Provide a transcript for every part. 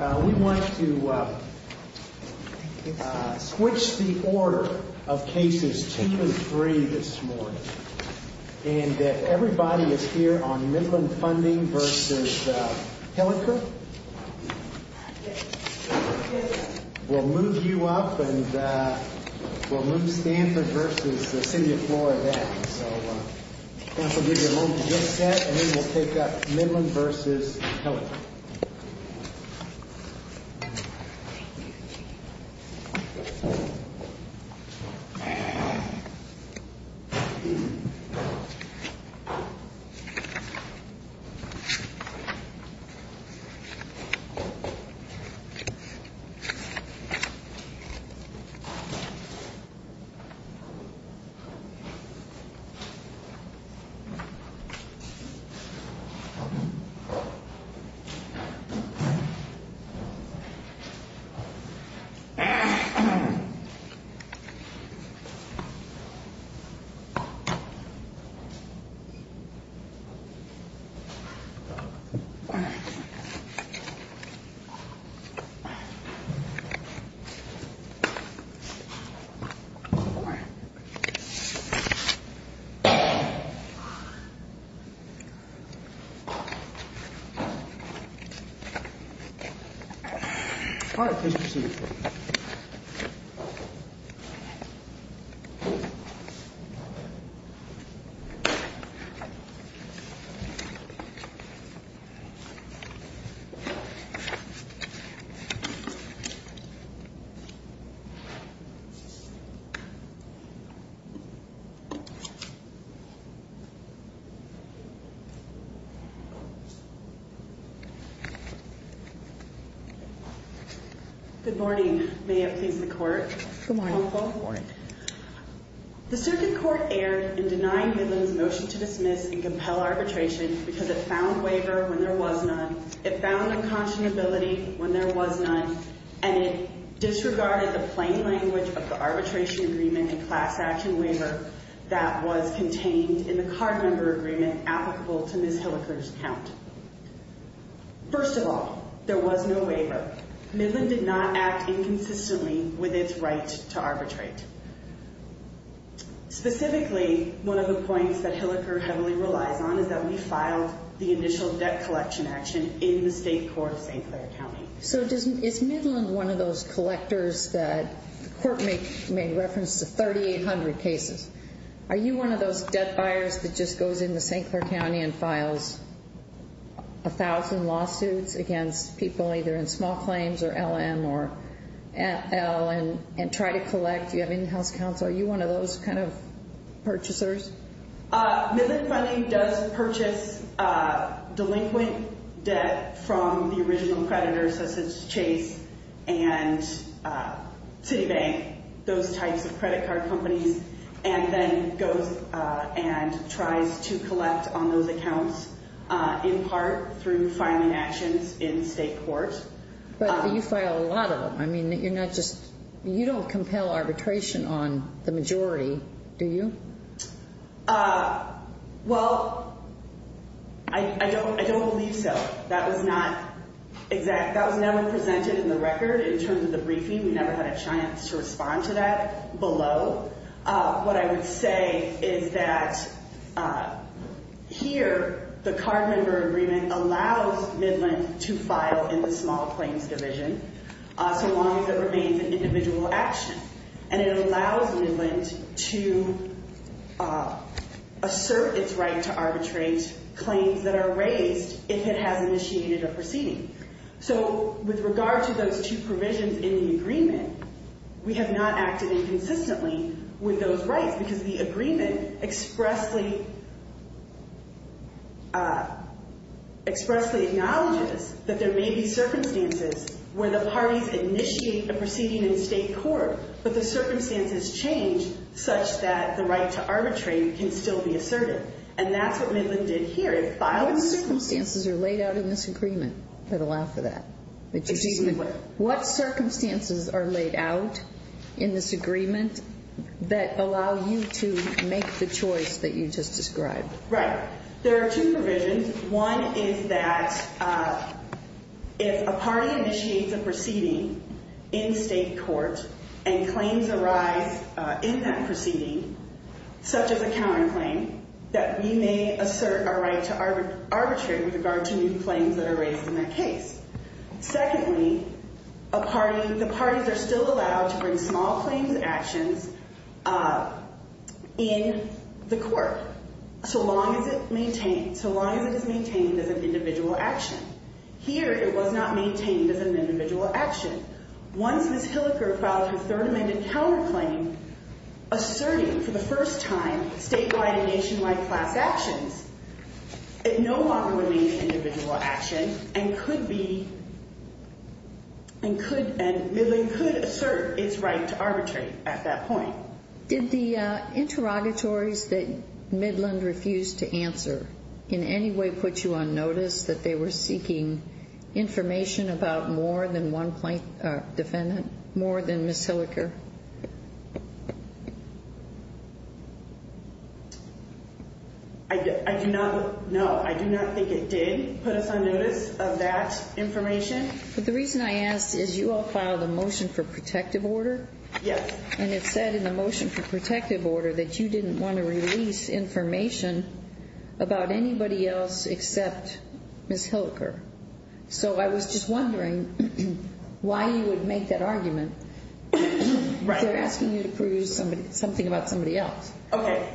We want to switch the order of cases two and three this morning. And everybody is here on Midland Funding v. Hilliker. We'll move you up and we'll move Stanford v. City of Flora back. And then we'll take up Midland v. Hilliker. Thank you. Thank you. Good morning. May it please the Court. Good morning. The Circuit Court erred in denying Midland's motion to dismiss and compel arbitration because it found waiver when there was none, it found unconscionability when there was none, and it disregarded the plain language of the arbitration agreement and class action waiver that was contained in the card member agreement applicable to Ms. Hilliker's account. First of all, there was no waiver. Midland did not act inconsistently with its right to arbitrate. Specifically, one of the points that Hilliker heavily relies on is that we filed the initial debt collection action in the state court of St. Clair County. So is Midland one of those collectors that the Court made reference to 3,800 cases? Are you one of those debt buyers that just goes into St. Clair County and files a thousand lawsuits against people either in small claims or LM or L and try to collect? Do you have in-house counsel? Are you one of those kind of purchasers? Midland Funding does purchase delinquent debt from the original creditors, such as Chase and Citibank, those types of credit card companies, and then goes and tries to collect on those accounts in part through filing actions in state court. But you file a lot of them. I mean, you're not just – you don't compel arbitration on the majority, do you? Well, I don't believe so. That was not – that was never presented in the record in terms of the briefing. We never had a chance to respond to that below. What I would say is that here, the card member agreement allows Midland to file in the small claims division so long as it remains an individual action, and it allows Midland to assert its right to arbitrate claims that are raised if it has initiated a proceeding. So with regard to those two provisions in the agreement, we have not acted inconsistently with those rights because the agreement expressly acknowledges that there may be circumstances where the parties initiate a proceeding in state court, but the circumstances change such that the right to arbitrate can still be asserted. And that's what Midland did here. What circumstances are laid out in this agreement that allow for that? Excuse me, what? What circumstances are laid out in this agreement that allow you to make the choice that you just described? Right. There are two provisions. One is that if a party initiates a proceeding in state court and claims arise in that proceeding, such as a counterclaim, that we may assert our right to arbitrate with regard to new claims that are raised in that case. Secondly, a party – the parties are still allowed to bring small claims actions in the Here, it was not maintained as an individual action. Once Ms. Hilliker filed her Third Amendment counterclaim asserting for the first time statewide and nationwide class actions, it no longer remains an individual action and could be – and could – and Midland could assert its right to arbitrate at that point. Did the interrogatories that Midland refused to answer in any way put you on notice that they were seeking information about more than one plaintiff – defendant, more than Ms. Hilliker? I do not – no, I do not think it did put us on notice of that information. But the reason I ask is you all filed a motion for protective order. Yes. And it said in the motion for protective order that you didn't want to release information about anybody else except Ms. Hilliker. So I was just wondering why you would make that argument. Right. They're asking you to prove something about somebody else. Okay.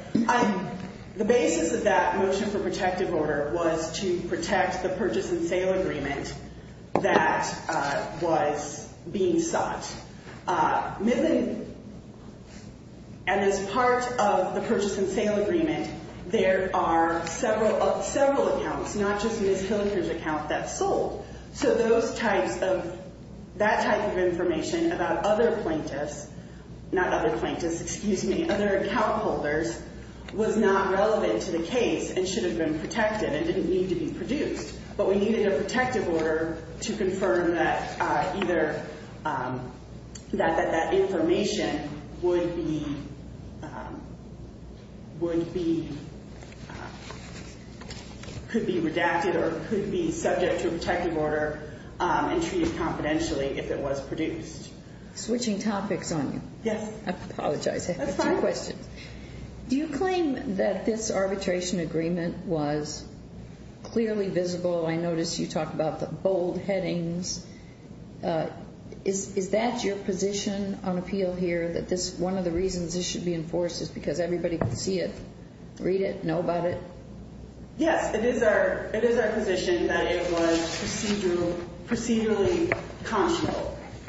The basis of that motion for protective order was to protect the purchase and sale agreement that was being sought. Midland – and as part of the purchase and sale agreement, there are several accounts, not just Ms. Hilliker's account, that sold. So those types of – that type of information about other plaintiffs – not other plaintiffs, excuse me – other account holders was not relevant to the case and should have been protected and didn't need to be produced. But we needed a protective order to confirm that either – that that information would be – could be redacted or could be subject to a protective order and treated confidentially if it was produced. Switching topics on you. Yes. I apologize. That's fine. I have two questions. Do you claim that this arbitration agreement was clearly visible? I noticed you talked about the bold headings. Is that your position on appeal here, that this – one of the reasons this should be enforced is because everybody can see it, read it, know about it? Yes. It is our – it is our position that it was procedurally conscious.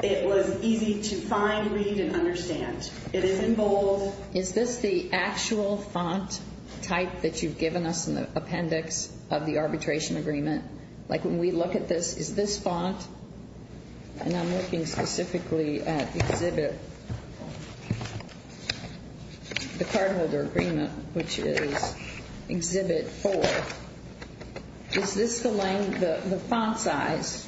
It was easy to find, read, and understand. It is in bold. So is this the actual font type that you've given us in the appendix of the arbitration agreement? Like, when we look at this, is this font – and I'm looking specifically at Exhibit – the cardholder agreement, which is Exhibit 4. Is this the length – the font size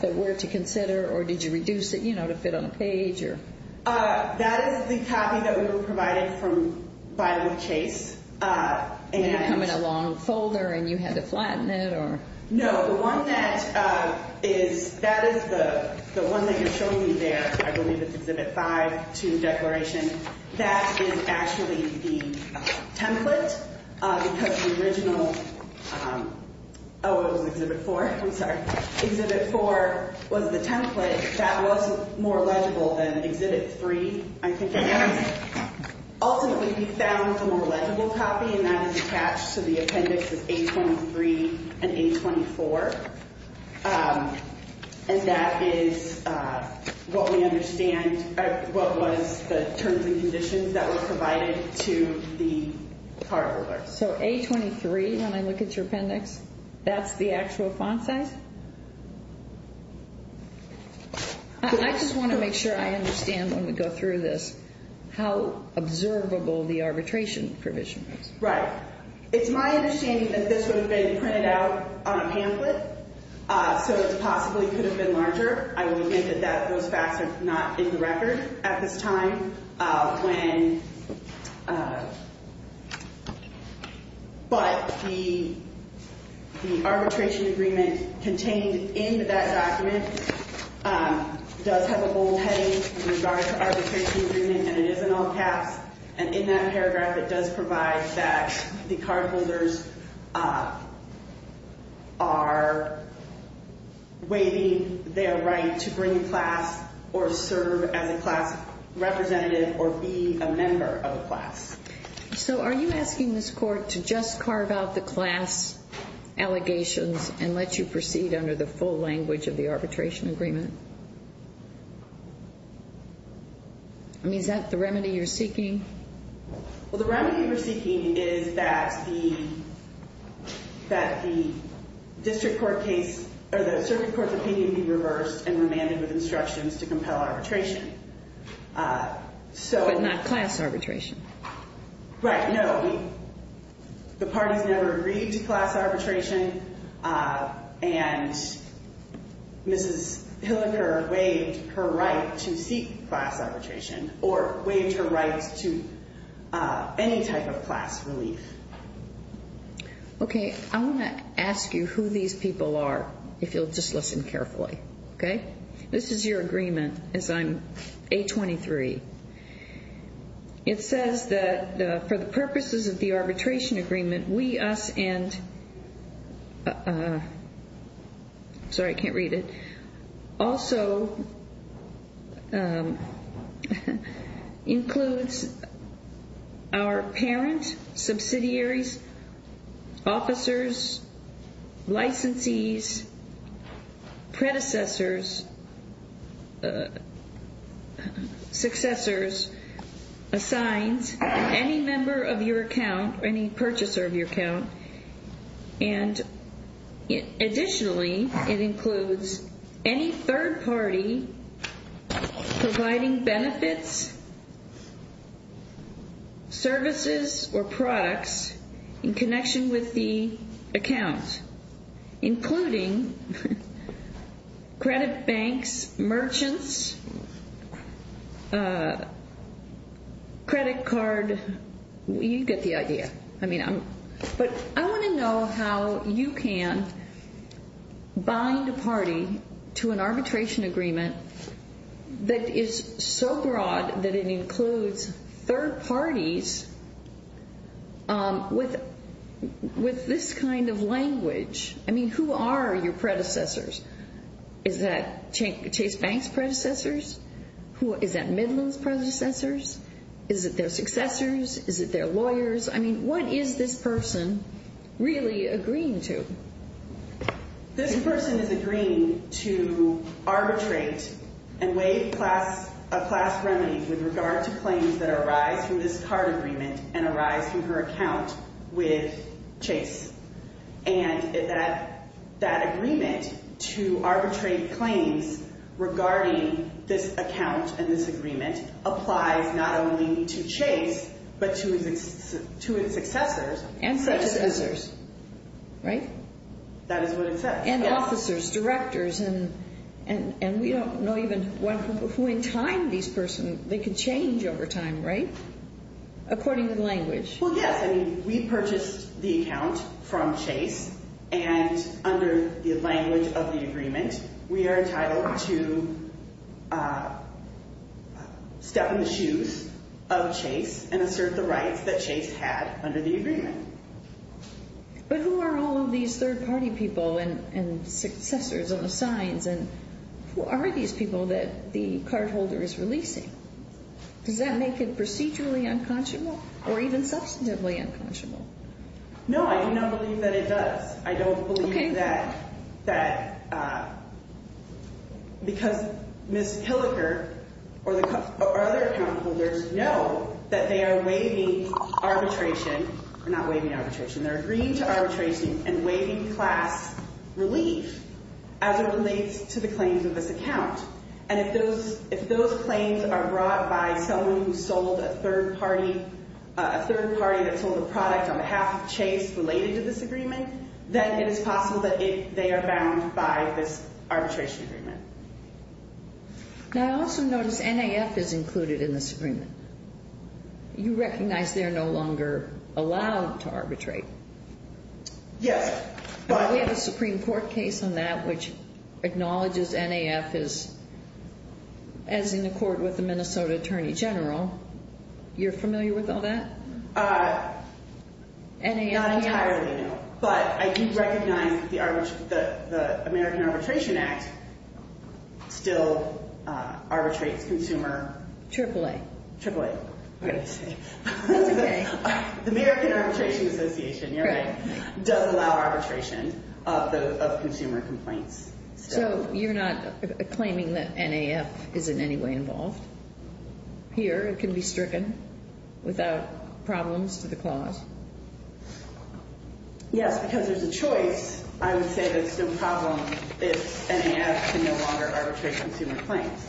that we're to consider, or did you reduce it, you know, to fit on a page, or? That is the copy that we were provided from Biola Chase. And you put it in a long folder, and you had to flatten it, or? No. The one that is – that is the one that you're showing me there. I believe it's Exhibit 5, 2, Declaration. That is actually the template, because the original – oh, it was Exhibit 4. I'm sorry. Exhibit 4 was the template. That was more legible than Exhibit 3, I think it was. Ultimately, we found a more legible copy, and that is attached to the appendix of A23 and A24. And that is what we understand – what was the terms and conditions that were provided to the cardholder. So A23, when I look at your appendix, that's the actual font size? I just want to make sure I understand, when we go through this, how observable the arbitration provision is. Right. It's my understanding that this would have been printed out on a pamphlet, so it possibly could have been larger. I will admit that those facts are not in the record at this time. But the arbitration agreement contained in that document does have a bold heading with regard to arbitration agreement, and it is in all caps. And in that paragraph, it does provide that the cardholders are waiting – they are right to bring a class or serve as a class representative or be a member of a class. So are you asking this Court to just carve out the class allegations and let you proceed under the full language of the arbitration agreement? I mean, is that the remedy you're seeking? Well, the remedy we're seeking is that the district court case – or the circuit court's opinion be reversed and remanded with instructions to compel arbitration. But not class arbitration. Right. No. The parties never agreed to class arbitration, and Mrs. Hilliker waived her right to seek class arbitration or waived her rights to any type of class relief. Okay. I want to ask you who these people are, if you'll just listen carefully. Okay? This is your agreement, as I'm A23. It says that for the purposes of the arbitration agreement, we, us, and – sorry, I can't read it – includes our parents, subsidiaries, officers, licensees, predecessors, successors, assigns any member of your account or any purchaser of your account, and additionally, it includes any third party providing benefits, services, or products in connection with the account, including credit banks, merchants, credit card – you get the idea. But I want to know how you can bind a party to an arbitration agreement that is so broad that it includes third parties with this kind of language. I mean, who are your predecessors? Is that Chase Bank's predecessors? Is that Midland's predecessors? Is it their successors? Is it their lawyers? I mean, what is this person really agreeing to? This person is agreeing to arbitrate and waive class remedies with regard to claims that arise from this card agreement and arise from her account with Chase. And that agreement to arbitrate claims regarding this account and this agreement applies not only to Chase but to its successors. And successors. Right? That is what it says. And officers, directors, and we don't know even who in time these persons – they can change over time, right? According to the language. Well, yes. And we are entitled to step in the shoes of Chase and assert the rights that Chase had under the agreement. But who are all of these third-party people and successors and assigns? And who are these people that the cardholder is releasing? Does that make it procedurally unconscionable or even substantively unconscionable? No, I do not believe that it does. I don't believe that – because Ms. Hilliker or other account holders know that they are waiving arbitration – not waiving arbitration. They're agreeing to arbitration and waiving class relief as it relates to the claims of this account. And if those claims are brought by someone who sold a third-party – then it is possible that they are bound by this arbitration agreement. Now, I also notice NAF is included in this agreement. You recognize they're no longer allowed to arbitrate. Yes, but – We have a Supreme Court case on that which acknowledges NAF is – as in accord with the Minnesota Attorney General. You're familiar with all that? Not entirely, no. But I do recognize that the American Arbitration Act still arbitrates consumer – AAA. AAA. That's okay. The American Arbitration Association, you're right, does allow arbitration of consumer complaints. So you're not claiming that NAF is in any way involved here and can be stricken without problems to the clause? Yes, because there's a choice. I would say there's no problem if NAF can no longer arbitrate consumer claims.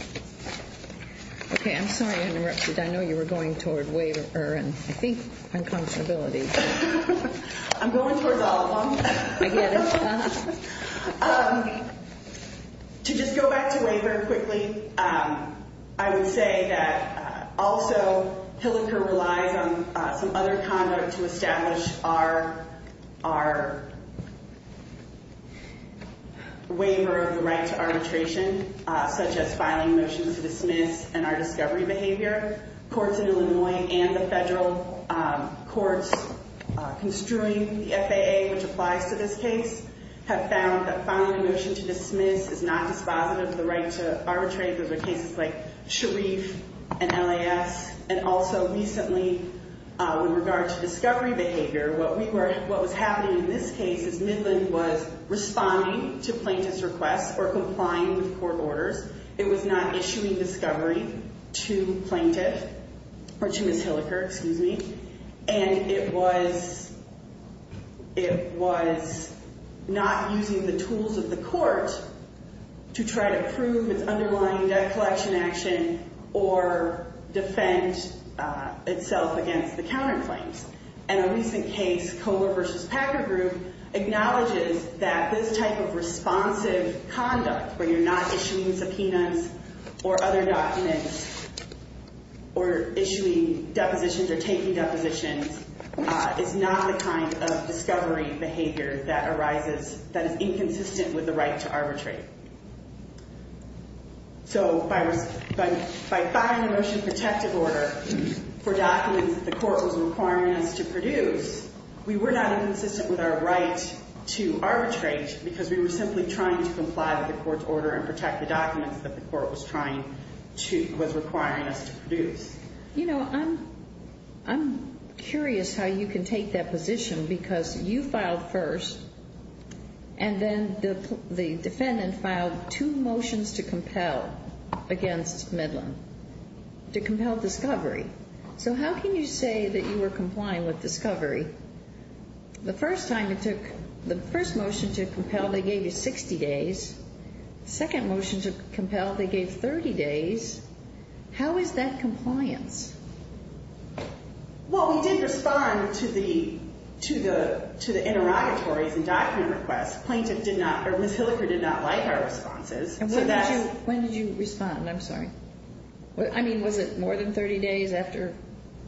Okay, I'm sorry to interrupt you. I know you were going toward waiver and, I think, unconscionability. I'm going towards all of them. I get it. To just go back to waiver quickly, I would say that also Hilliker relies on some other conduct to establish our waiver of the right to arbitration, such as filing motions to dismiss and our discovery behavior. Courts in Illinois and the federal courts construing the FAA, which applies to this case, have found that filing a motion to dismiss is not dispositive of the right to arbitrate. Those are cases like Sharif and LAS. And also, recently, with regard to discovery behavior, what was happening in this case is Midland was responding to plaintiff's requests or complying with court orders. It was not issuing discovery to plaintiff, or to Ms. Hilliker, excuse me, and it was not using the tools of the court to try to prove its underlying debt collection action or defend itself against the counterclaims. And a recent case, Kohler v. Packer Group, acknowledges that this type of responsive conduct, where you're not issuing subpoenas or other documents or issuing depositions or taking depositions, is not the kind of discovery behavior that arises, that is inconsistent with the right to arbitrate. So by filing a motion protective order for documents that the court was requiring us to produce, we were not inconsistent with our right to arbitrate because we were simply trying to comply with the court's order and protect the documents that the court was trying to, was requiring us to produce. You know, I'm curious how you can take that position because you filed first, and then the defendant filed two motions to compel against Midland, to compel discovery. So how can you say that you were complying with discovery? The first time it took, the first motion to compel, they gave you 60 days. The second motion to compel, they gave 30 days. How is that compliance? Well, we did respond to the interrogatories and document requests. Plaintiff did not, or Ms. Hilliker did not like our responses. When did you respond? I'm sorry. I mean, was it more than 30 days after?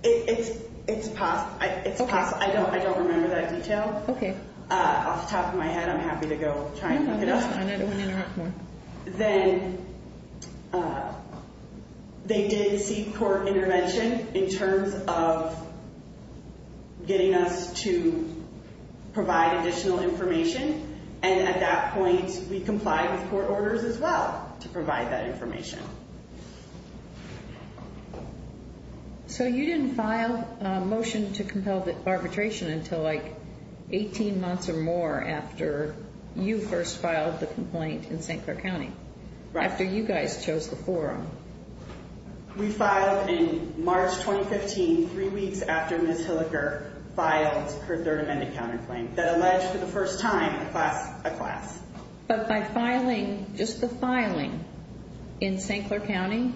It's possible. I don't remember that detail. Off the top of my head, I'm happy to go try and look it up. Then they did seek court intervention in terms of getting us to provide additional information. And at that point, we complied with court orders as well to provide that information. So you didn't file a motion to compel arbitration until like 18 months or more after you first filed the complaint in St. Clair County? Right. After you guys chose the forum? We filed in March 2015, three weeks after Ms. Hilliker filed her third amended counterclaim that alleged for the first time a class. But by filing, just the filing in St. Clair County,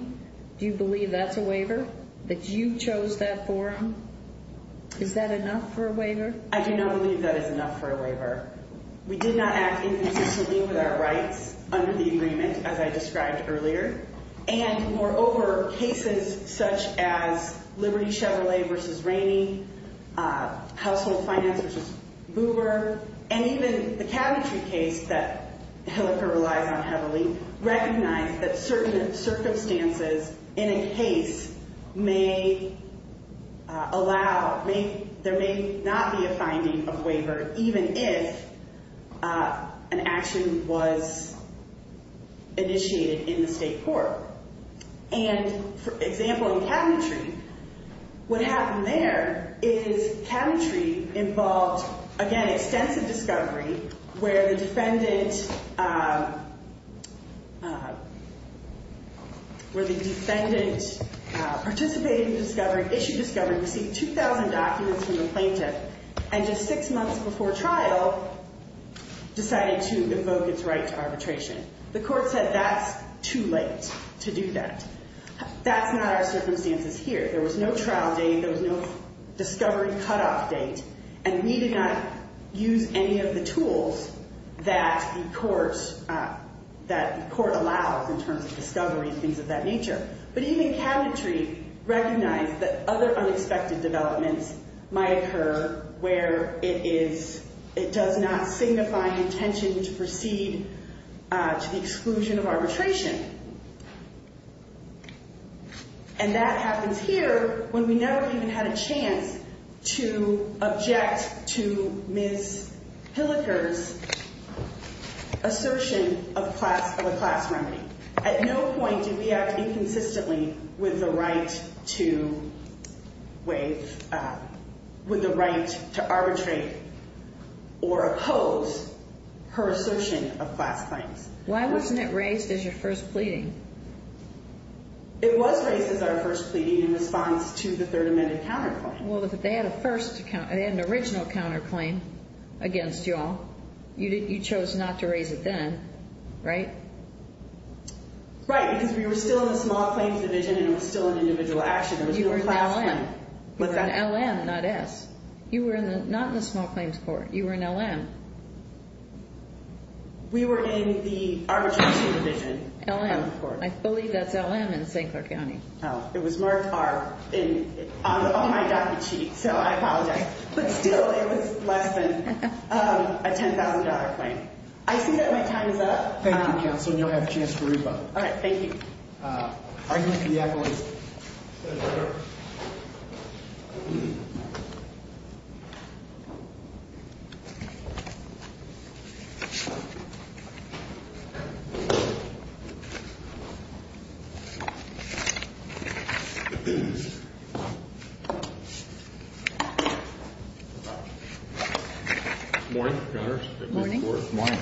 That you chose that forum? Is that enough for a waiver? I do not believe that is enough for a waiver. We did not act inconsistently with our rights under the agreement, as I described earlier. And moreover, cases such as Liberty Chevrolet v. Rainey, Household Finance v. Boober, and even the cabinetry case that Hilliker relies on heavily recognize that certain circumstances in a case may allow, there may not be a finding of waiver, even if an action was initiated in the state court. And for example, in cabinetry, what happened there is cabinetry involved, again, extensive discovery, where the defendant participated in the discovery, issued discovery, received 2,000 documents from the plaintiff, and just six months before trial decided to invoke its right to arbitration. The court said that's too late to do that. That's not our circumstances here. There was no trial date. There was no discovery cutoff date. And we did not use any of the tools that the court allows in terms of discovery and things of that nature. But even cabinetry recognized that other unexpected developments might occur where it does not signify intention to proceed to the exclusion of arbitration. And that happens here when we never even had a chance to object to Ms. Hilliker's assertion of a class remedy. At no point did we act inconsistently with the right to waive, with the right to arbitrate or oppose her assertion of class claims. Why wasn't it raised as your first pleading? It was raised as our first pleading in response to the Third Amendment counterclaim. Well, they had an original counterclaim against you all. You chose not to raise it then, right? Right, because we were still in the Small Claims Division and it was still an individual action. You were in LM, not S. You were not in the Small Claims Court. You were in LM. We were in the Arbitration Division. LM. I believe that's LM in St. Clair County. Oh, it was marked R on my docket sheet, so I apologize. But still, it was less than a $10,000 claim. I see that my time is up. Thank you, Counsel, and you'll have a chance to re-vote. All right, thank you. Argument to the accolades. Thank you, Your Honor. Good morning, Your Honor. Good morning.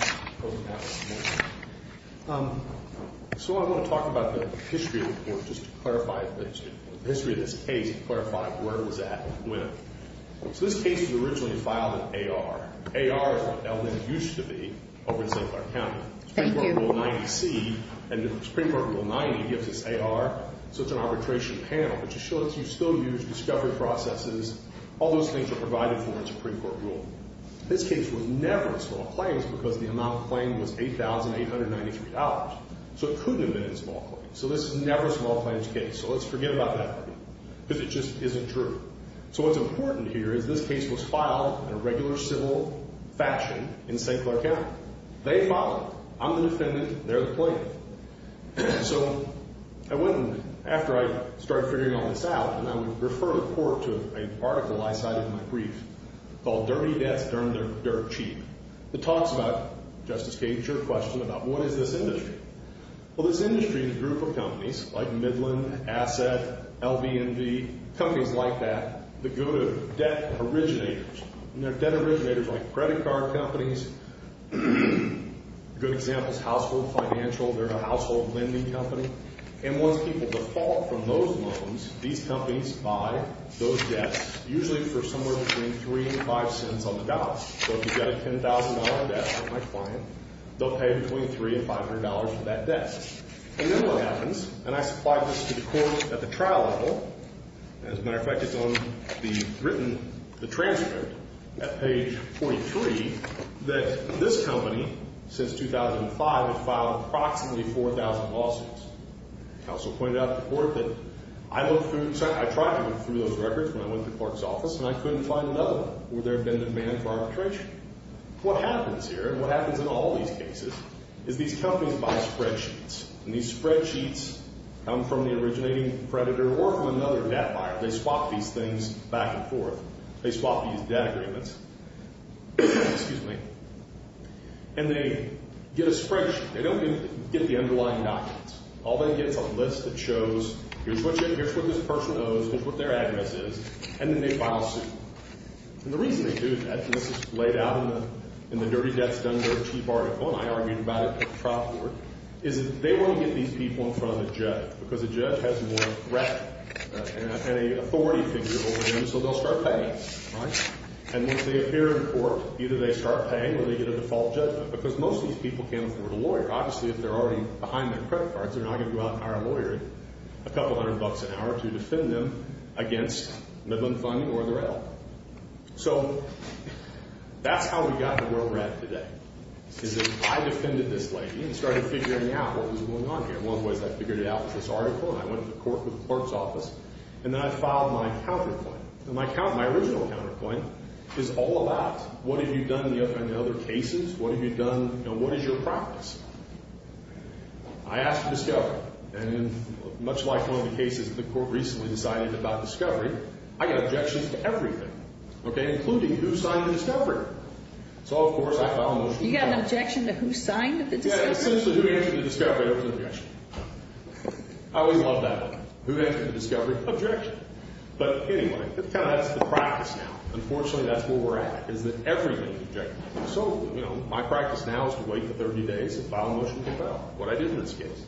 So I want to talk about the history of the case to clarify where it was at and when. So this case was originally filed in AR. AR is what LM used to be over in St. Clair County. Thank you. Supreme Court Rule 90C and the Supreme Court Rule 90 gives us AR, so it's an arbitration panel, which shows you still use discovery processes. All those things are provided for in the Supreme Court rule. This case was never in small claims because the amount of claim was $8,893, so it couldn't have been in small claims. So this is never a small claims case, so let's forget about that one because it just isn't true. So what's important here is this case was filed in a regular civil faction in St. Clair County. They filed it. I'm the defendant. They're the plaintiff. So after I started figuring all this out, and I would refer the court to an article I cited in my brief called Dirty Debts, Dirt Cheap. It talks about, Justice Kagan, your question about what is this industry. Well, this industry is a group of companies like Midland, Asset, LVMV, companies like that that go to debt originators, and they're debt originators like credit card companies. A good example is Household Financial. They're a household lending company. And once people default from those loans, these companies buy those debts, usually for somewhere between three and five cents on the dollar. So if you've got a $10,000 debt like my client, they'll pay between $300 and $500 for that debt. And then what happens, and I supplied this to the court at the trial level, and as a matter of fact, it's on the written transcript at page 43, that this company, since 2005, has filed approximately 4,000 lawsuits. Counsel pointed out to the court that I looked through, I tried to look through those records when I went to Clark's office, and I couldn't find another one where there had been demand for arbitration. What happens here, and what happens in all these cases, is these companies buy spreadsheets, and these spreadsheets come from the originating creditor or from another debt buyer. They swap these things back and forth. They swap these debt agreements. Excuse me. And they get a spreadsheet. They don't even get the underlying documents. All they get is a list that shows here's what this person owes, here's what their address is, and then they file a suit. And the reason they do that, and this is laid out in the Dirty Debts Dunder Chief article, and I argued about it at the trial court, is that they want to get these people in front of the judge because the judge has more breadth and an authority figure over them, so they'll start paying. And once they appear in court, either they start paying or they get a default judgment because most of these people can't afford a lawyer. Obviously, if they're already behind their credit cards, they're not going to go out and hire a lawyer at a couple hundred bucks an hour to defend them against Midland Funding or the rail. So that's how we got where we're at today, is that I defended this lady and started figuring out what was going on here. And one of the ways I figured it out was this article, and I went to the court with the clerk's office, and then I filed my counterclaim. And my original counterclaim is all about what have you done in the other cases, what have you done, you know, what is your practice? I asked for discovery. And much like one of the cases the court recently decided about discovery, I got objections to everything, okay, including who signed the discovery. So, of course, I filed a motion. You got an objection to who signed the discovery? Essentially, who answered the discovery, it was an objection. I always loved that one. Who answered the discovery? Objection. But anyway, that's the practice now. Unfortunately, that's where we're at, is that everything is an objection. So, you know, my practice now is to wait for 30 days and file a motion to compel, what I did in this case.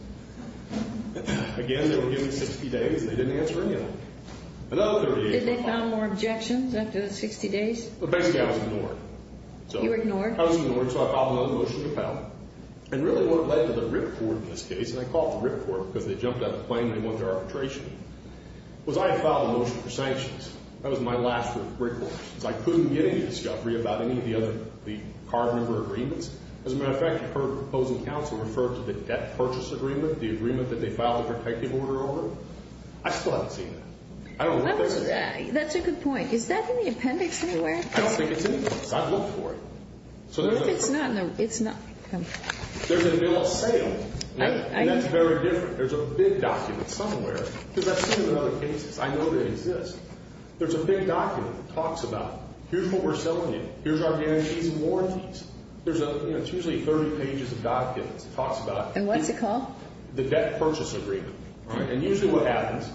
Again, they were giving me 60 days, and they didn't answer anything. Another 30 days. Did they file more objections after the 60 days? Basically, I was ignored. You were ignored? I was ignored, so I filed another motion to compel. And really what led to the ripcord in this case, and I call it the ripcord because they jumped out of the plane and went to arbitration, was I had filed a motion for sanctions. That was my last ripcord. So I couldn't get any discovery about any of the other card member agreements. As a matter of fact, I heard the opposing counsel refer to the debt purchase agreement, the agreement that they filed a protective order over. I still haven't seen that. I don't know if there is. That's a good point. Is that in the appendix anywhere? I don't think it's in the appendix. I've looked for it. It's not in the appendix. There's a bill of sale, and that's very different. There's a big document somewhere. Because I've seen it in other cases. I know they exist. There's a big document that talks about here's what we're selling you. Here's our guarantees and warranties. It's usually 30 pages of documents. It talks about the debt purchase agreement. And usually what happens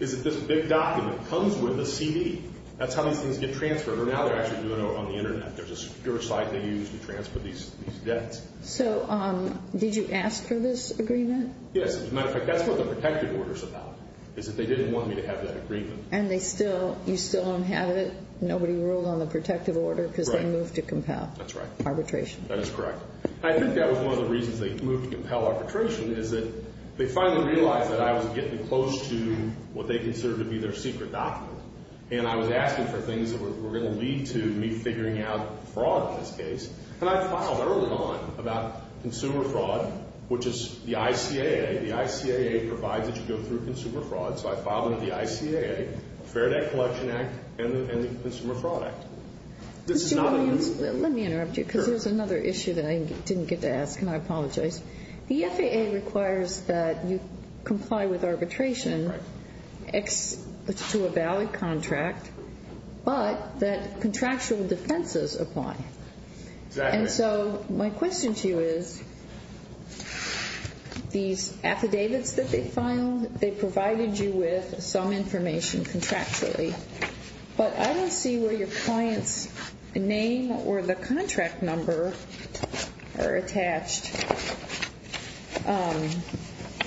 is that this big document comes with a CD. That's how these things get transferred. Or now they're actually doing it on the Internet. There's a secure site they use to transfer these debts. So did you ask for this agreement? Yes. As a matter of fact, that's what the protective order is about, is that they didn't want me to have that agreement. And you still don't have it? Nobody ruled on the protective order because they moved to compel arbitration. That's right. That is correct. I think that was one of the reasons they moved to compel arbitration is that they finally realized that I was getting close to what they considered to be their secret document. And I was asking for things that were going to lead to me figuring out fraud in this case. And I filed early on about consumer fraud, which is the ICAA. The ICAA provides that you go through consumer fraud. So I filed under the ICAA, Fair Debt Collection Act, and the Consumer Fraud Act. Let me interrupt you because there's another issue that I didn't get to ask, and I apologize. The FAA requires that you comply with arbitration to a valid contract, but that contractual defenses apply. Exactly. And so my question to you is, these affidavits that they filed, they provided you with some information contractually, but I don't see where your client's name or the contract number are attached.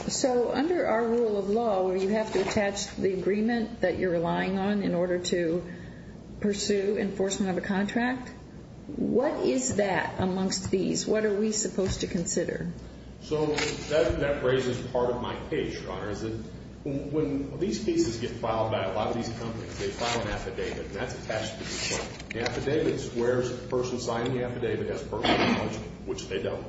So under our rule of law where you have to attach the agreement that you're relying on in order to pursue enforcement of a contract, what is that amongst these? What are we supposed to consider? So that raises part of my case, Your Honor, is that when these pieces get filed by a lot of these companies, they file an affidavit, and that's attached to this one. The affidavit is where the person signing the affidavit has personal knowledge, which they don't.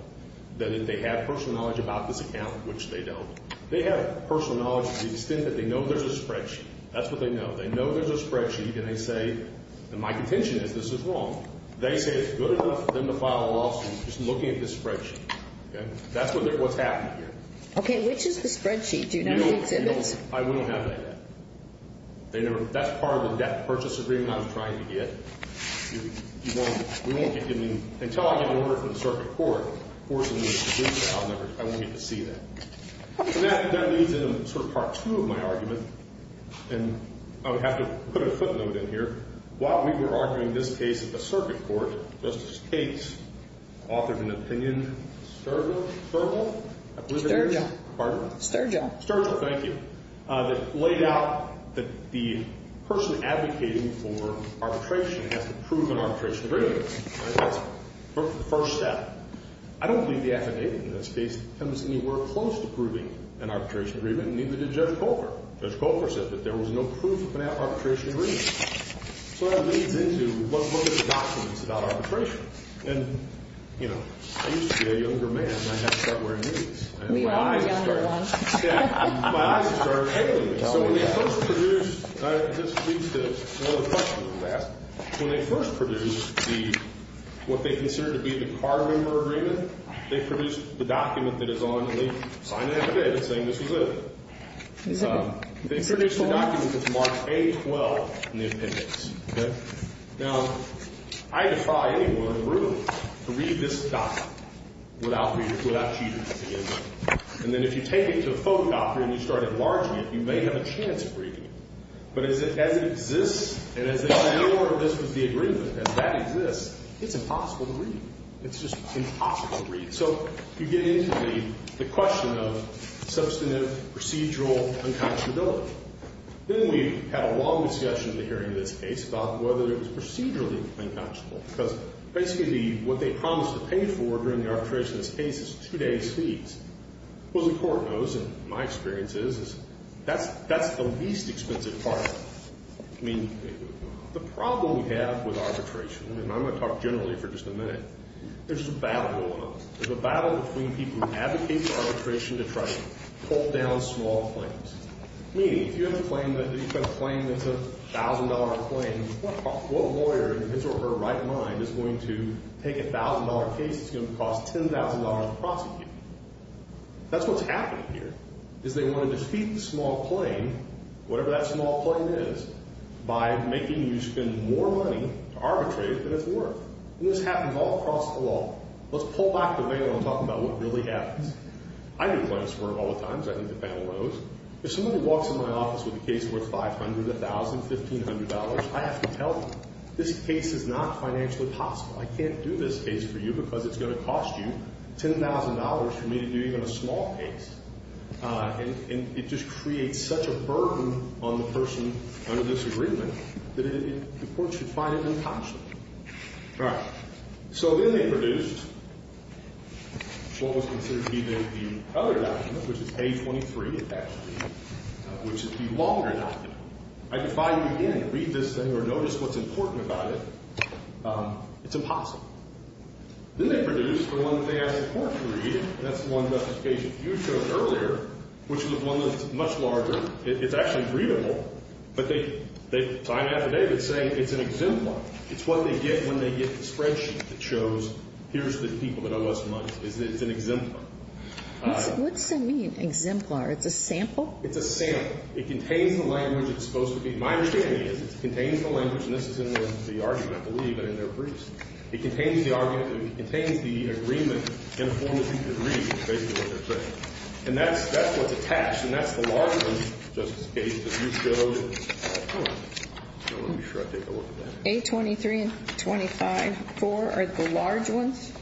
They have personal knowledge about this account, which they don't. They have personal knowledge to the extent that they know there's a spreadsheet. That's what they know. They know there's a spreadsheet, and they say, and my contention is this is wrong. They say it's good enough for them to file a lawsuit just looking at this spreadsheet. That's what's happening here. Okay. Which is the spreadsheet? Do you know the exhibits? We don't have that yet. That's part of the debt purchase agreement I was trying to get. Until I get an order from the circuit court forcing me to do that, I won't get to see that. And that leads into sort of part two of my argument, and I would have to put a footnote in here. While we were arguing this case at the circuit court, Justice Gates authored an opinion, Sturgill? Sturgill. Pardon? Sturgill. Sturgill, thank you, that laid out that the person advocating for arbitration has to prove an arbitration agreement. That's the first step. I don't believe the affidavit in this case comes anywhere close to proving an arbitration agreement, and neither did Judge Colfer. Judge Colfer said that there was no proof of an arbitration agreement. So that leads into what are the documents about arbitration? And, you know, I used to be a younger man, and I haven't stopped wearing these. We were a younger one. Yeah. My eyes have started failing me. So when they first produced, this leads to another question I've asked. When they first produced the, what they considered to be the card member agreement, they produced the document that is on the affidavit saying this was it. They produced the document that's marked A-12 in the appendix. Okay? Now, I defy anyone in the room to read this document without reading it, without cheating. And then if you take it to a photo doctor and you start enlarging it, you may have a chance of reading it. But as it exists and as they say, this was the agreement, as that exists, it's impossible to read. It's just impossible to read. So you get into the question of substantive procedural unconscionability. Then we had a long discussion in the hearing of this case about whether it was procedurally unconscionable because basically what they promised to pay for during the arbitration of this case is two days' fees. What the court knows, and my experience is, is that's the least expensive part of it. I mean, the problem we have with arbitration, and I'm going to talk generally for just a minute, there's a battle going on. There's a battle between people who advocate for arbitration to try to pull down small claims. Meaning if you have a claim that's a $1,000 claim, what lawyer in his or her right mind is going to take a $1,000 case that's going to cost $10,000 to prosecute? That's what's happening here is they want to defeat the small claim, whatever that small claim is, by making you spend more money to arbitrate than it's worth. And this happens all across the law. Let's pull back the veil and talk about what really happens. I do claims for him all the time, as I think the panel knows. If somebody walks in my office with a case worth $500, $1,000, $1,500, I have to tell them, this case is not financially possible. I can't do this case for you because it's going to cost you $10,000 for me to do even a small case. And it just creates such a burden on the person under this agreement that the court should find it unconscionable. All right. So then they produced what was considered to be the other document, which is page 23, actually, which is the longer document. I could find it again and read this thing or notice what's important about it. It's impossible. Then they produced the one that they asked the court to read, and that's the one that page a few shows earlier, which was one that's much larger. It's actually three or more. But they sign it affidavit saying it's an exemplar. It's what they get when they get the spreadsheet that shows here's the people that owe us money. It's an exemplar. What does that mean, exemplar? It's a sample? It's a sample. It contains the language it's supposed to be. My understanding is it contains the language, and this is in the argument, I believe, and in their briefs. It contains the argument. It contains the agreement in a form that you can read, which is basically what they're saying. And that's what's attached, and that's the larger one, Justice Gage, that you showed. Let me make sure I take a look at that. A23 and 25.4 are the large ones?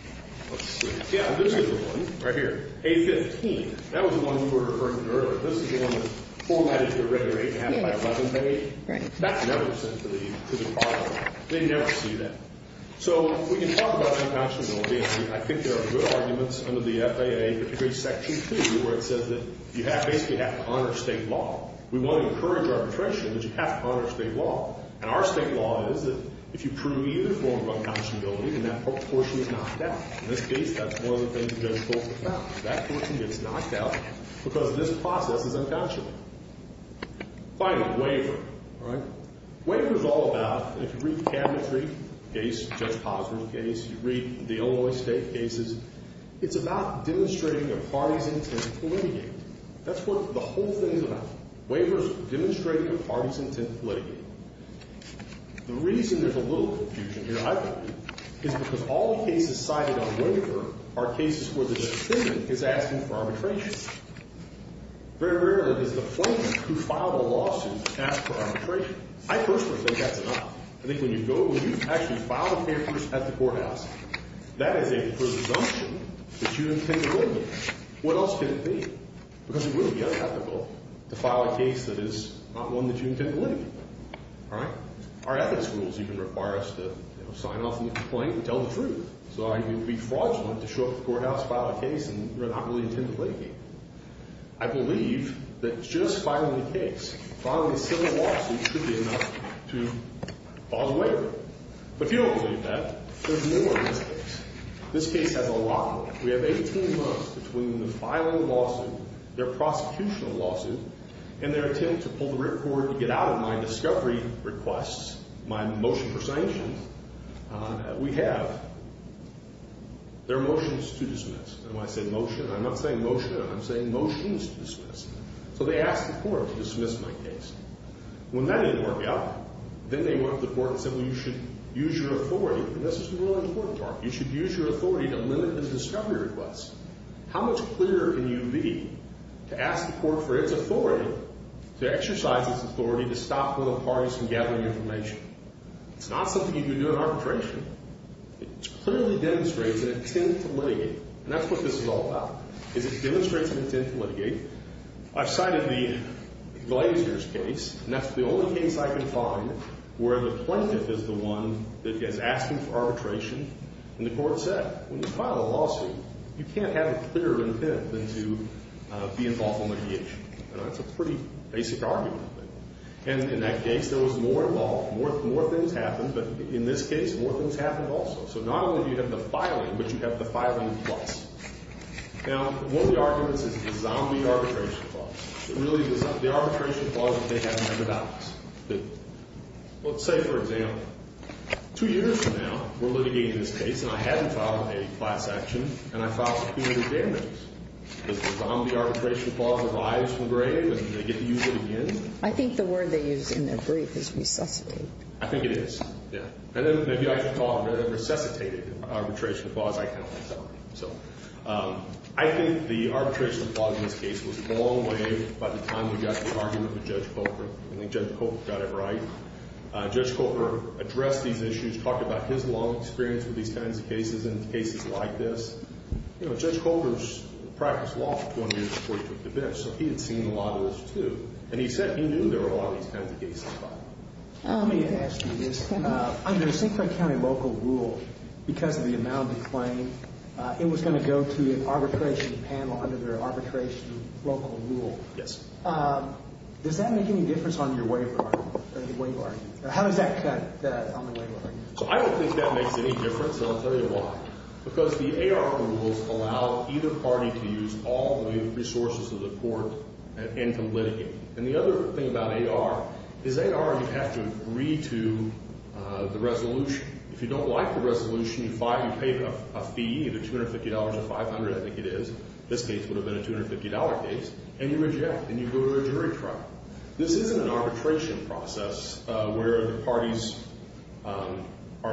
Yeah. This is the one right here, A15. That was the one you were referring to earlier. This is the one that's formatted to a regular 8.5 by 11 page. That's never sent to the file. They never see that. So we can talk about uncountability. I think there are good arguments under the FAA, particularly Section 2, where it says that you basically have to honor state law. We won't encourage arbitration, but you have to honor state law. And our state law is that if you prove either form of uncountability, then that portion is knocked out. In this case, that's one of the things that Judge Bolton found. That portion gets knocked out because this process is uncountable. Finally, waiver. All right? If you read the Cabinet's case, Judge Posner's case, you read the Illinois State cases, it's about demonstrating a party's intent to litigate. That's what the whole thing is about. Waiver is demonstrating a party's intent to litigate. The reason there's a little confusion here, I think, is because all the cases cited on waiver are cases where the defendant is asking for arbitration. Very rarely does the plaintiff, who filed a lawsuit, ask for arbitration. I personally think that's enough. I think when you go, when you actually file a case at the courthouse, that is a presumption that you intend to litigate. What else could it be? Because it would be unethical to file a case that is not one that you intend to litigate. All right? Our ethics rules even require us to sign off the complaint and tell the truth. So I would be fraudulent to show up at the courthouse, file a case, and not really intend to litigate. I believe that just filing a case, filing a civil lawsuit, should be enough to cause a waiver. But if you don't believe that, there's more in this case. This case has a lot more. We have 18 months between the filing of the lawsuit, their prosecution of the lawsuit, and their attempt to pull the ripcord to get out of my discovery requests, my motion for sanctions. We have their motions to dismiss. And when I say motion, I'm not saying motion. I'm saying motions to dismiss. So they asked the court to dismiss my case. When that didn't work out, then they went up to the court and said, well, you should use your authority. And this is the really important part. You should use your authority to limit the discovery requests. How much clearer can you be to ask the court for its authority to exercise its authority to stop other parties from gathering information? It's not something you can do in arbitration. It clearly demonstrates an intent to litigate. And that's what this is all about, is it demonstrates an intent to litigate. I've cited the Glazier's case, and that's the only case I can find where the plaintiff is the one that is asking for arbitration. And the court said, when you file a lawsuit, you can't have a clearer intent than to be involved in litigation. And that's a pretty basic argument. And in that case, there was more involved. More things happened. But in this case, more things happened also. So not only do you have the filing, but you have the filing clause. Now, one of the arguments is the zombie arbitration clause. It really is the arbitration clause that they have never doubted. Let's say, for example, two years from now, we're litigating this case, and I hadn't filed a class action, and I filed superior damages. Does the zombie arbitration clause arise from grave, and do they get to use it again? I think the word they use in their brief is resuscitate. I think it is, yeah. And then maybe I should call it a resuscitated arbitration clause. I can only tell you. So I think the arbitration clause in this case was a long way by the time we got to the argument with Judge Colbert. I think Judge Colbert got it right. Judge Colbert addressed these issues, talked about his long experience with these kinds of cases and cases like this. You know, Judge Colbert's practiced law for 20 years before he took the bench, so he had seen a lot of this too. And he said he knew there were a lot of these kinds of cases. Let me ask you this. Under St. Croix County local rule, because of the amount of the claim, it was going to go to an arbitration panel under their arbitration local rule. Yes. Does that make any difference on your waiver argument? How does that cut on the waiver argument? So I don't think that makes any difference, and I'll tell you why. Because the AR rules allow either party to use all the resources of the court and to litigate. And the other thing about AR is AR, you have to agree to the resolution. If you don't like the resolution, you pay a fee, either $250 or $500, I think it is. This case would have been a $250 case. And you reject, and you go to a jury trial. This isn't an arbitration process where the parties are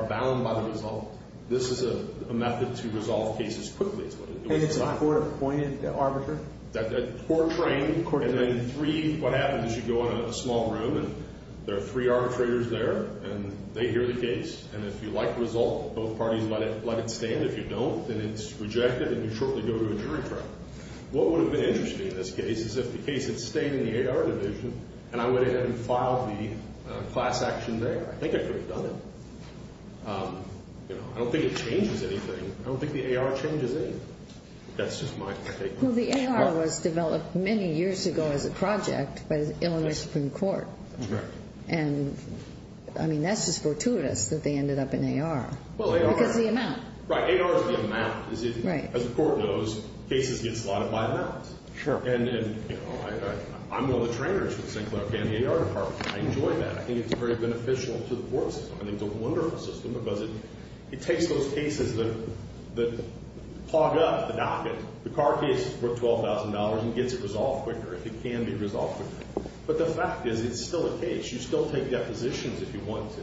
bound by the result. This is a method to resolve cases quickly. And it's a court-appointed arbiter? A court-trained, and then three, what happens is you go in a small room, and there are three arbitrators there, and they hear the case. And if you like the result, both parties let it stand. If you don't, then it's rejected, and you shortly go to a jury trial. What would have been interesting in this case is if the case had stayed in the AR division, and I went ahead and filed the class action there. I think I could have done it. I don't think it changes anything. I don't think the AR changes anything. That's just my take on it. Well, the AR was developed many years ago as a project by the Illinois Supreme Court. That's correct. And, I mean, that's just fortuitous that they ended up in AR because of the amount. Right, AR is the amount. As the court knows, cases get slotted by amounts. Sure. And I'm one of the trainers for the Sinclair Academy AR department. I enjoy that. I think it's very beneficial to the court system. I think it's a wonderful system because it takes those cases that clog up the docket. The car case is worth $12,000 and gets it resolved quicker if it can be resolved quicker. But the fact is it's still a case. You still take depositions if you want to.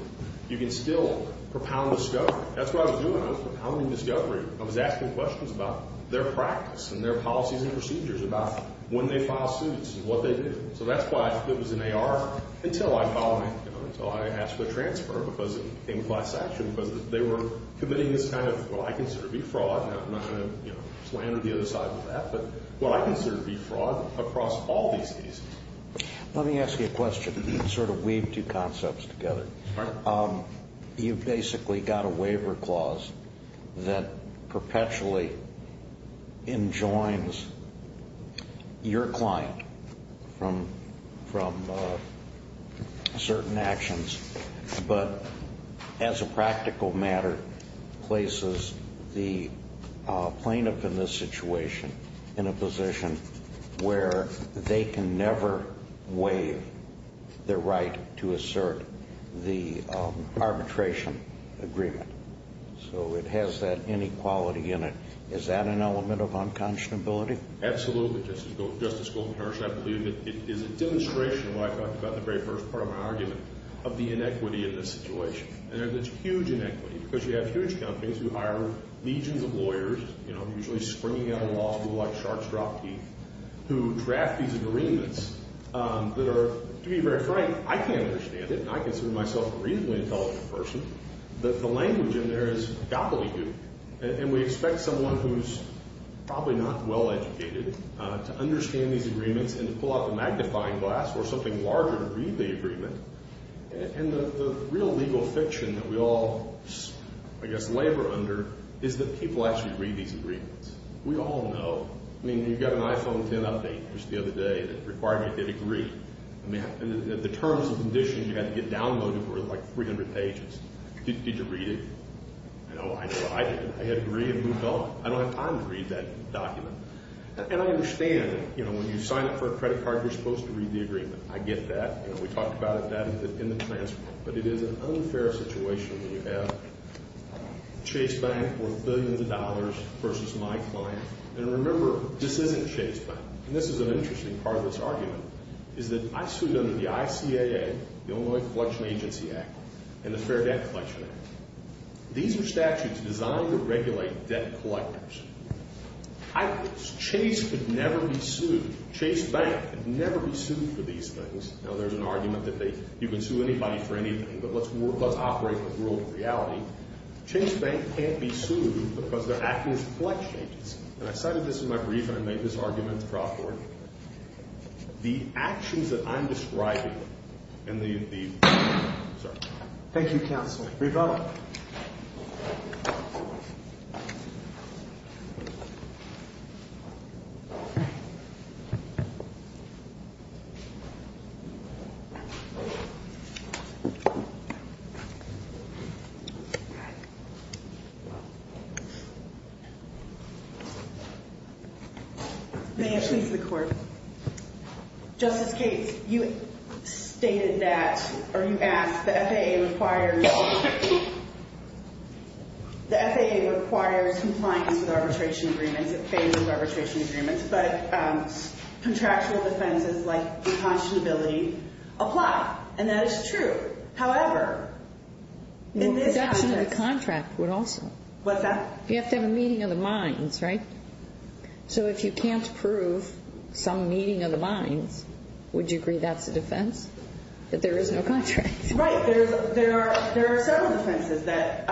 You can still propound discovery. That's what I was doing. I was propounding discovery. I was asking questions about their practice and their policies and procedures about when they file suits and what they do. So that's why it was in AR until I filed it, until I asked for a transfer because it became class action, because they were committing this kind of what I consider to be fraud. I'm not going to slander the other side with that, but what I consider to be fraud across all these cases. Let me ask you a question and sort of weave two concepts together. All right. You've basically got a waiver clause that perpetually enjoins your client from certain actions. But as a practical matter, places the plaintiff in this situation in a position where they can never waive their right to assert the arbitration agreement. So it has that inequality in it. Is that an element of unconscionability? Absolutely. I believe it is a demonstration of what I talked about in the very first part of my argument of the inequity in this situation. And there's this huge inequity because you have huge companies who hire legions of lawyers, usually springing out of law school like sharks drop teeth, who draft these agreements that are, to be very frank, I can't understand it. And I consider myself a reasonably intelligent person. The language in there is gobbledygook. And we expect someone who's probably not well-educated to understand these agreements and to pull out the magnifying glass or something larger to read the agreement. And the real legal fiction that we all, I guess, labor under is that people actually read these agreements. We all know. I mean, you've got an iPhone 10 update just the other day that required me to get a degree. I mean, the terms and conditions you had to get downloaded were like 300 pages. Did you read it? I know I did. I had a degree and moved on. I don't have time to read that document. And I understand, you know, when you sign up for a credit card, you're supposed to read the agreement. I get that. You know, we talked about that in the transfer. But it is an unfair situation when you have Chase Bank worth billions of dollars versus my client. And remember, this isn't Chase Bank. And this is an interesting part of this argument, is that I sued under the ICAA, the Illinois Collection Agency Act, and the Fair Debt Collection Act. These are statutes designed to regulate debt collectors. I was. Chase could never be sued. Chase Bank could never be sued for these things. Now, there's an argument that you can sue anybody for anything, but let's operate in a world of reality. Chase Bank can't be sued because they're acting as a collection agency. And I cited this in my brief, and I made this argument at the draft board. The actions that I'm describing and the— Sorry. Thank you, Counselor. Revella. May it please the Court. Justice Gates, you stated that, or you asked, the FAA requires compliance with arbitration agreements, in favor of arbitration agreements. But contractual defenses like conscionability apply, and that is true. However, in this context— Well, reduction of the contract would also. What's that? You have to have a meeting of the minds, right? So if you can't prove some meeting of the minds, would you agree that's a defense, that there is no contract? Right. There are several defenses that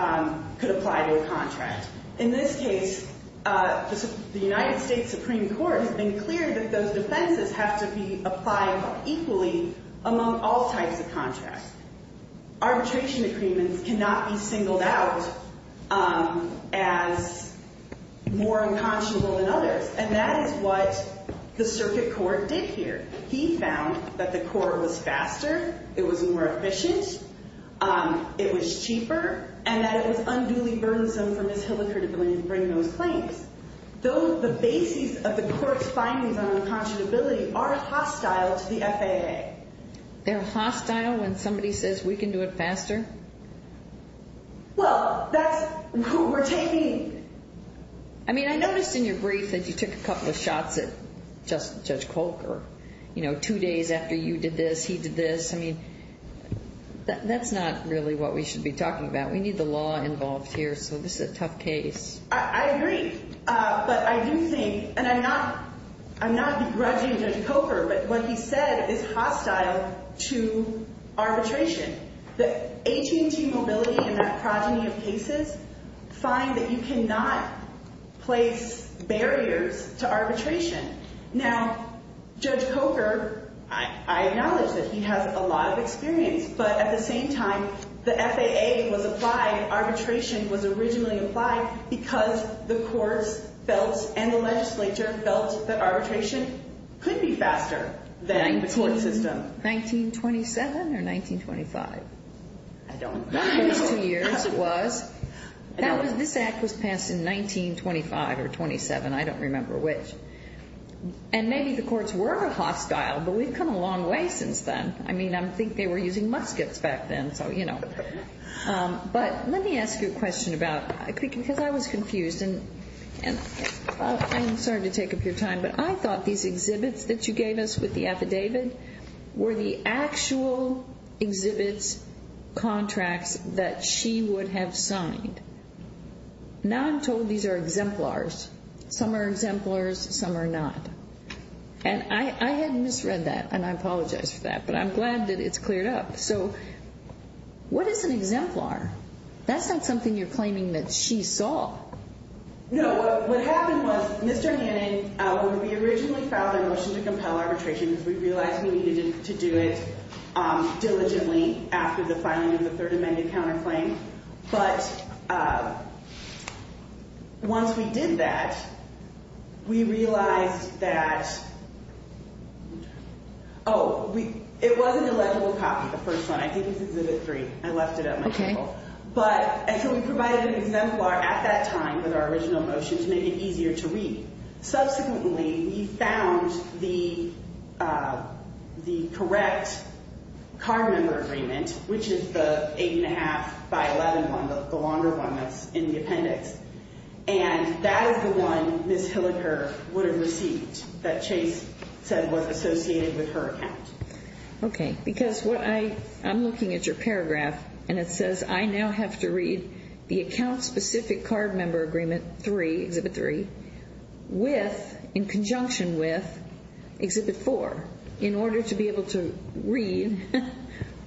could apply to a contract. In this case, the United States Supreme Court has been clear that those defenses have to be applied equally among all types of contracts. Arbitration agreements cannot be singled out as more unconscionable than others, and that is what the circuit court did here. He found that the court was faster, it was more efficient, it was cheaper, and that it was unduly burdensome for Ms. Hilliker to bring those claims. Though the basis of the court's findings on unconscionability are hostile to the FAA. They're hostile when somebody says we can do it faster? Well, that's who we're taking. I mean, I noticed in your brief that you took a couple of shots at Judge Colker, you know, two days after you did this, he did this. I mean, that's not really what we should be talking about. We need the law involved here, so this is a tough case. I agree, but I do think, and I'm not begrudging Judge Colker, but what he said is hostile to arbitration. The AT&T mobility in that progeny of cases find that you cannot place barriers to arbitration. Now, Judge Colker, I acknowledge that he has a lot of experience, but at the same time, the FAA was applied, arbitration was originally applied, because the courts felt and the legislature felt that arbitration could be faster than the court system. 1927 or 1925? I don't know. This Act was passed in 1925 or 1927. I don't remember which. And maybe the courts were hostile, but we've come a long way since then. I mean, I think they were using muskets back then, so, you know. But let me ask you a question about, because I was confused, and I'm sorry to take up your time, but I thought these exhibits that you gave us with the affidavit were the actual exhibits, contracts that she would have signed. Now I'm told these are exemplars. Some are exemplars, some are not. And I had misread that, and I apologize for that, but I'm glad that it's cleared up. So what is an exemplar? That's not something you're claiming that she saw. No. What happened was Mr. Hannon, when we originally filed our motion to compel arbitration, because we realized we needed to do it diligently after the filing of the Third Amendment counterclaim, but once we did that, we realized that, oh, it was an illegible copy, the first one. I think it's Exhibit 3. I left it at my table. But we provided an exemplar at that time with our original motion to make it easier to read. Subsequently, we found the correct card member agreement, which is the 8.5 by 11 one, the longer one that's in the appendix. And that is the one Ms. Hilliker would have received that Chase said was associated with her account. Okay. Because I'm looking at your paragraph, and it says, I now have to read the account-specific card member agreement 3, Exhibit 3, in conjunction with Exhibit 4, in order to be able to read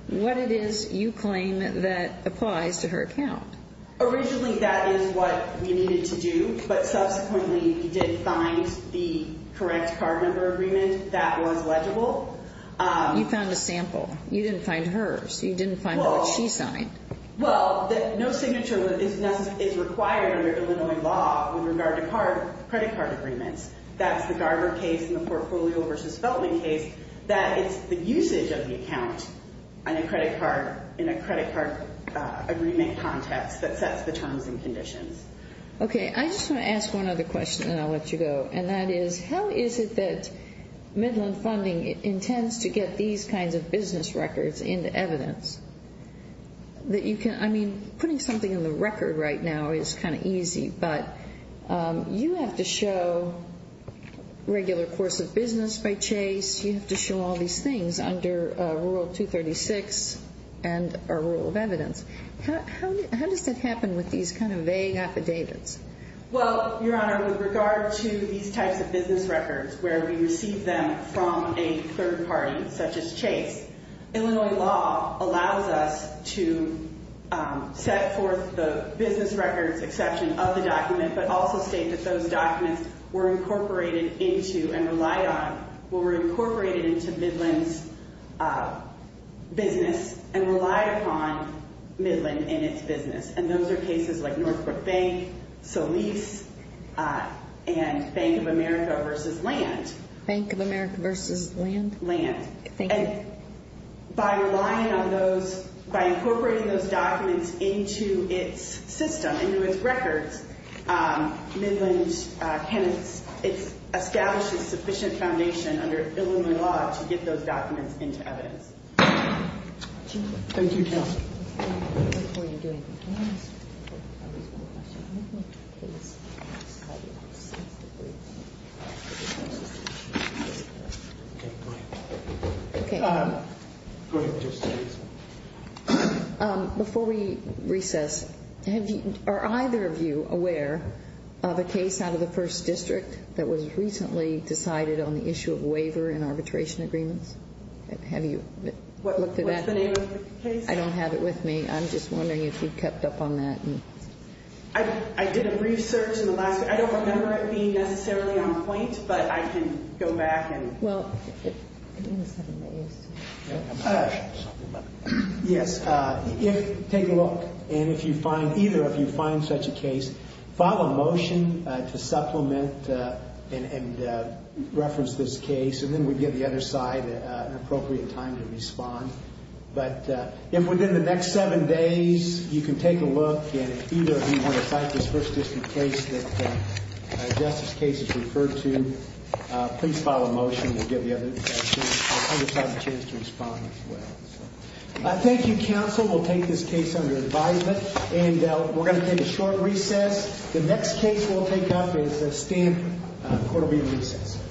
what it is you claim that applies to her account. Originally, that is what we needed to do, but subsequently we did find the correct card member agreement that was legible. You found a sample. You didn't find hers. You didn't find what she signed. Well, no signature is required under Illinois law with regard to credit card agreements. That's the Garber case and the Portfolio v. Feltman case. That is the usage of the account in a credit card agreement context that sets the terms and conditions. Okay. I just want to ask one other question, and then I'll let you go, and that is, how is it that Midland Funding intends to get these kinds of business records into evidence? I mean, putting something in the record right now is kind of easy, but you have to show regular course of business by Chase. You have to show all these things under Rural 236 and a rule of evidence. How does that happen with these kind of vague affidavits? Well, Your Honor, with regard to these types of business records where we receive them from a third party, such as Chase, Illinois law allows us to set forth the business records exception of the document but also state that those documents were incorporated into and relied on, were incorporated into Midland's business and relied upon Midland and its business. And those are cases like Northbrook Bank, Solis, and Bank of America v. Land. Bank of America v. Land? Land. Thank you. And by relying on those, by incorporating those documents into its system, into its records, Midland can establish a sufficient foundation under Illinois law to get those documents into evidence. Thank you, counsel. Before you do anything, can I ask a reasonable question? I'd like to please ask how you assess the briefs. Okay, go ahead. Okay. Go ahead, Justice Ginsburg. Before we recess, are either of you aware of a case out of the First District that was recently decided on the issue of waiver in arbitration agreements? Have you looked at that? What's the name of the case? I don't have it with me. I'm just wondering if you kept up on that. I did a brief search in the last week. I don't remember it being necessarily on point, but I can go back and – Well, if – Yes, if – take a look. And if you find – either of you find such a case, file a motion to supplement and reference this case, and then we'll give the other side an appropriate time to respond. But if within the next seven days you can take a look and either of you want to cite this First District case that Justice's case is referred to, please file a motion. We'll give the other side a chance to respond as well. Thank you, counsel. We'll take this case under advisement, and we're going to take a short recess. The next case we'll take up is the Stamp Quarterly Recess.